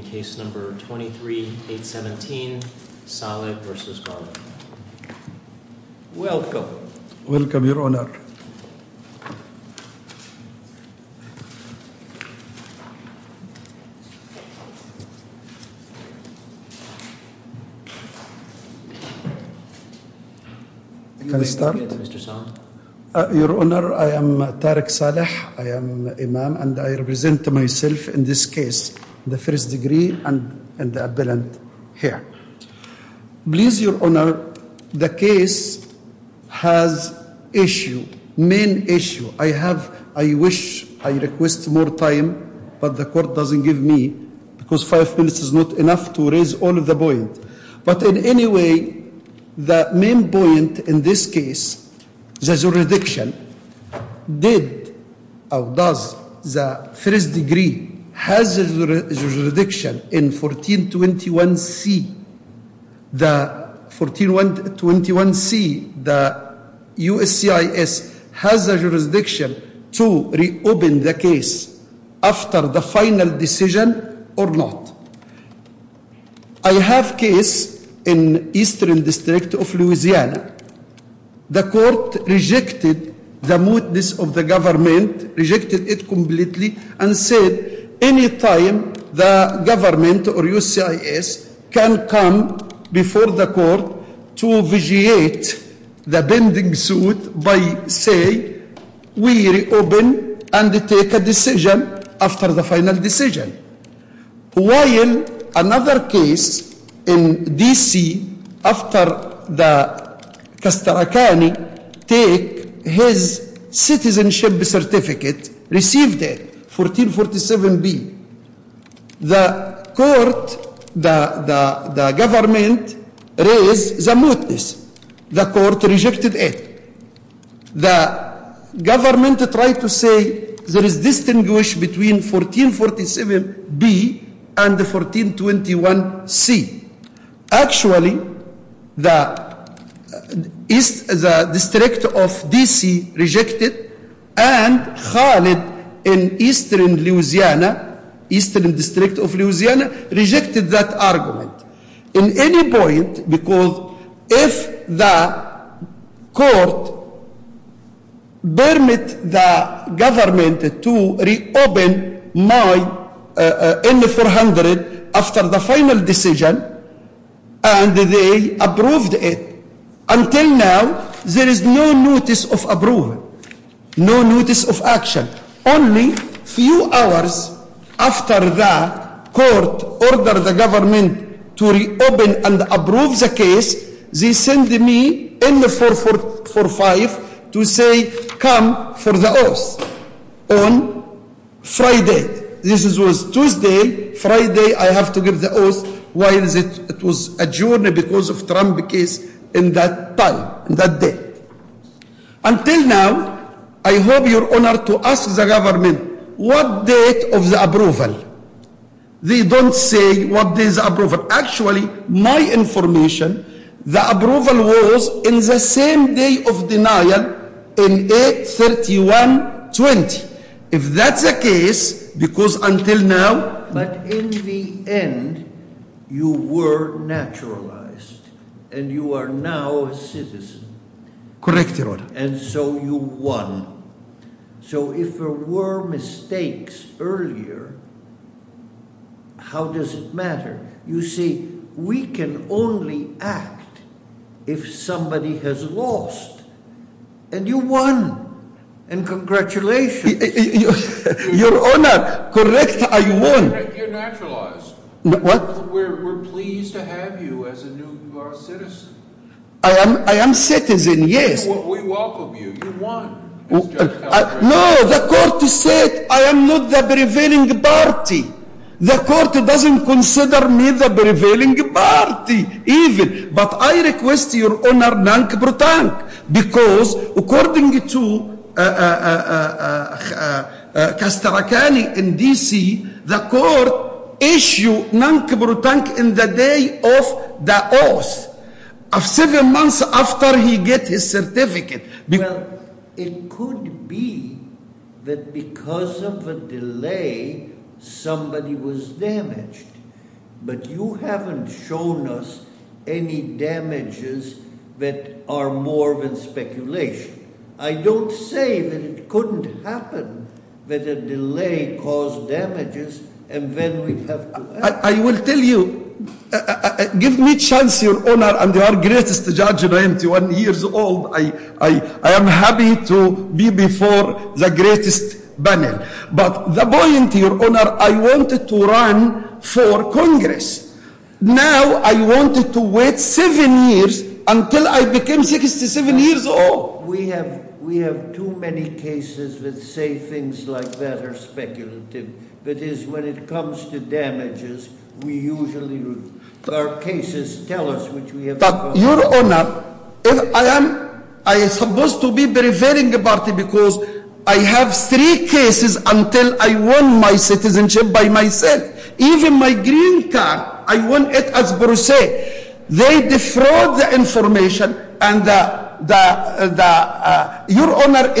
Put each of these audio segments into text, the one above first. in Case No. 23-817, Saleh v. Garland. Welcome. Welcome, Your Honor. Can I start? Mr. Saleh. Your Honor, I am Tariq Saleh. I am an imam and I represent myself in this case, the first degree and the appellant here. Please, Your Honor, the case has issue, main issue. I wish I request more time, but the court doesn't give me because five minutes is not enough to raise all of the point. But in any way, the main point in this case, the jurisdiction did or does the first degree has jurisdiction in 1421C. The 1421C, the USCIS has a jurisdiction to reopen the case after the final decision or not. I have case in Eastern District of Louisiana. The court rejected the mootness of the government, rejected it completely and said any time the government or USCIS can come before the court to vigiate the pending suit by saying we reopen and take a decision after the final decision. While another case in D.C. after the Castracani take his citizenship certificate, received it, 1447B, the court, the government raised the mootness. The court rejected it. The government tried to say there is distinguish between 1447B and the 1421C. Actually, the District of D.C. rejected and called it in Eastern Louisiana, Eastern District of Louisiana, rejected that argument. In any point, because if the court permit the government to reopen my N-400 after the final decision and they approved it, until now there is no mootness of approval, no mootness of action. Only few hours after the court ordered the government to reopen and approve the case, they send me N-445 to say come for the oath on Friday. This was Tuesday, Friday I have to give the oath while it was adjourned because of Trump case in that time, in that day. Until now, I hope you are honored to ask the government what date of the approval. They don't say what date of approval. Actually, my information, the approval was in the same day of denial in 8-31-20. If that's the case, because until now... But in the end, you were naturalized and you are now a citizen. Correct your honor. And so you won. So if there were mistakes earlier, how does it matter? You see, we can only act if somebody has lost. And you won. And congratulations. Your honor, correct, I won. You're naturalized. What? We're pleased to have you as a new citizen. I am citizen, yes. We welcome you. You won. No, the court said I am not the prevailing party. The court doesn't consider me the prevailing party even. But I request your honor, thank you. Because according to Castracani in DC, the court issued thank you in the day of the oath. Seven months after he got his certificate. Well, it could be that because of a delay, somebody was damaged. But you haven't shown us any damages that are more than speculation. I don't say that it couldn't happen that a delay caused damages and then we'd have to act. I will tell you, give me a chance, your honor, and you are the greatest judge and I am 21 years old. I am happy to be before the greatest panel. But the point, your honor, I wanted to run for Congress. Now I wanted to wait seven years until I became 67 years old. We have too many cases that say things like that are speculative. That is, when it comes to damages, we usually, our cases tell us which we have caused. But your honor, I am supposed to be prevailing party because I have three cases until I won my citizenship by myself. Even my green card, I won it as Bruce. They defraud the information. Your honor,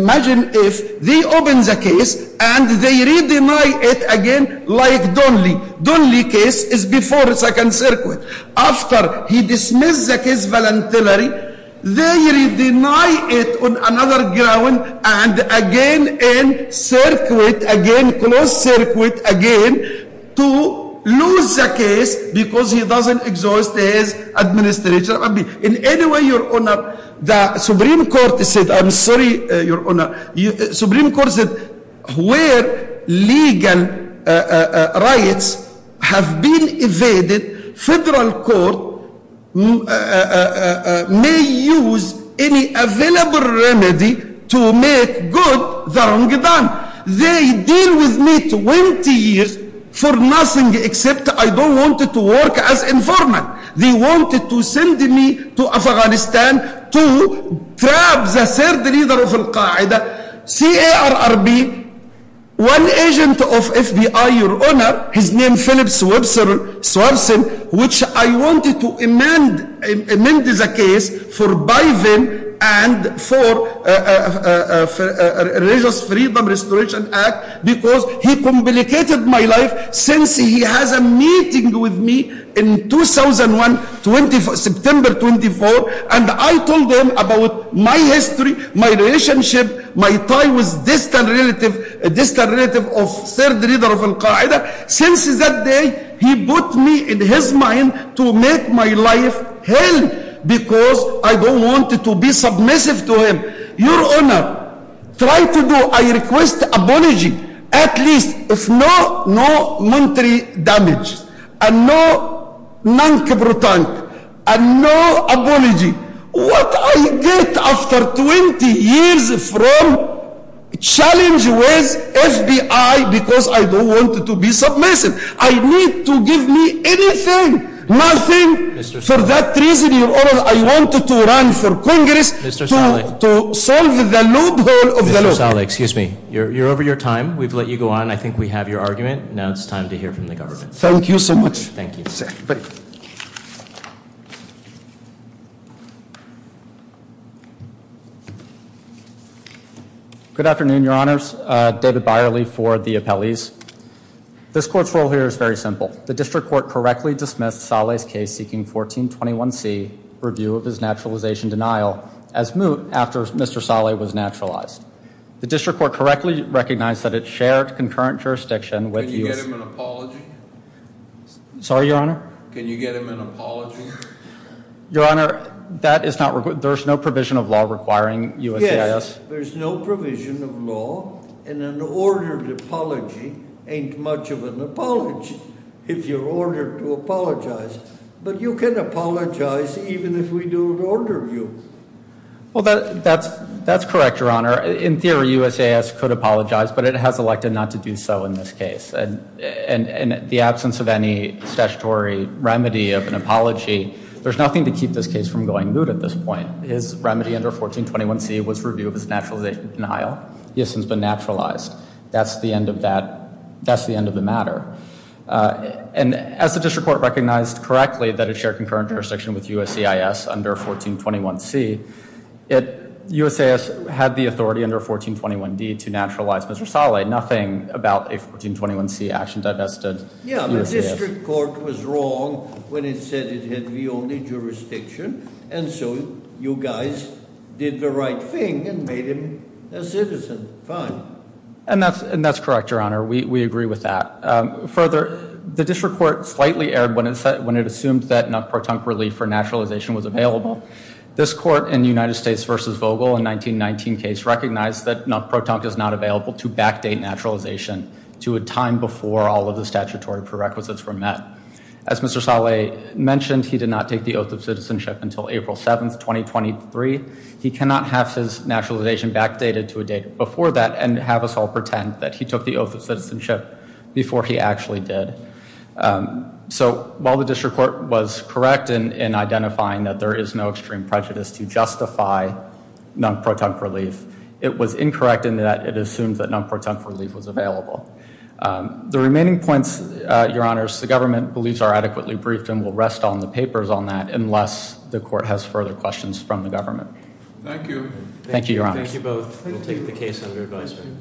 imagine if they open the case and they re-deny it again like Donnelly. Donnelly case is before second circuit. After he dismissed the case voluntarily, they re-deny it on another ground and again in circuit, again closed circuit, again, to lose the case because he doesn't exhaust his administration. In any way, your honor, the Supreme Court said, I'm sorry, your honor, the Supreme Court said where legal rights have been evaded, federal court may use any available remedy to make good the wrong done. They deal with me 20 years for nothing except I don't want to work as informant. They wanted to send me to Afghanistan to trap the third leader of Al-Qaeda, C.A.R.R.B., one agent of FBI, your honor, his name is Philip Swerson, which I wanted to amend the case for Biden and for Religious Freedom Restoration Act because he complicated my life since he has a meeting with me in 2001, September 24, and I told him about my history, my relationship, my tie with distant relative of third leader of Al-Qaeda. Since that day, he put me in his mind to make my life hell because I don't want to be submissive to him. Your honor, try to do, I request apology, at least, if not, no military damage, and no non-capital time, and no apology. What I get after 20 years from challenge with FBI because I don't want to be submissive. For that reason, your honor, I wanted to run for Congress to solve the loophole of the loophole. Mr. Saleh, excuse me, you're over your time. We've let you go on. I think we have your argument. Now it's time to hear from the government. Thank you so much. Thank you. Good afternoon, your honors. David Byerly for the appellees. This court's role here is very simple. The district court correctly dismissed Saleh's case seeking 1421C, review of his naturalization denial, as moot after Mr. Saleh was naturalized. The district court correctly recognized that it shared concurrent jurisdiction with you. Can you get him an apology? Sorry, your honor? Can you get him an apology? Your honor, that is not, there's no provision of law requiring USCIS. There's no provision of law, and an ordered apology ain't much of an apology if you're ordered to apologize. But you can apologize even if we don't order you. Well, that's correct, your honor. In theory, USCIS could apologize, but it has elected not to do so in this case. And in the absence of any statutory remedy of an apology, there's nothing to keep this case from going moot at this point. His remedy under 1421C was review of his naturalization denial. He has since been naturalized. That's the end of that, that's the end of the matter. And as the district court recognized correctly that it shared concurrent jurisdiction with USCIS under 1421C, USCIS had the authority under 1421D to naturalize Mr. Saleh. Nothing about a 1421C action divested USCIS. Yeah, but district court was wrong when it said it had the only jurisdiction. And so you guys did the right thing and made him a citizen. Fine. And that's correct, your honor. We agree with that. Further, the district court slightly erred when it said, when it assumed that not pro-tunk relief for naturalization was available. This court in the United States versus Vogel in 1919 case recognized that not pro-tunk is not available to backdate naturalization to a time before all of the statutory prerequisites were met. As Mr. Saleh mentioned, he did not take the oath of citizenship until April 7th, 2023. He cannot have his naturalization backdated to a date before that and have us all pretend that he took the oath of citizenship before he actually did. So while the district court was correct in identifying that there is no extreme prejudice to justify non-pro-tunk relief, it was incorrect in that it assumed that non-pro-tunk relief was available. The remaining points, your honors, the government believes are adequately briefed and will rest on the papers on that unless the court has further questions from the government. Thank you. Thank you, your honors. Thank you both. We'll take the case under advisement.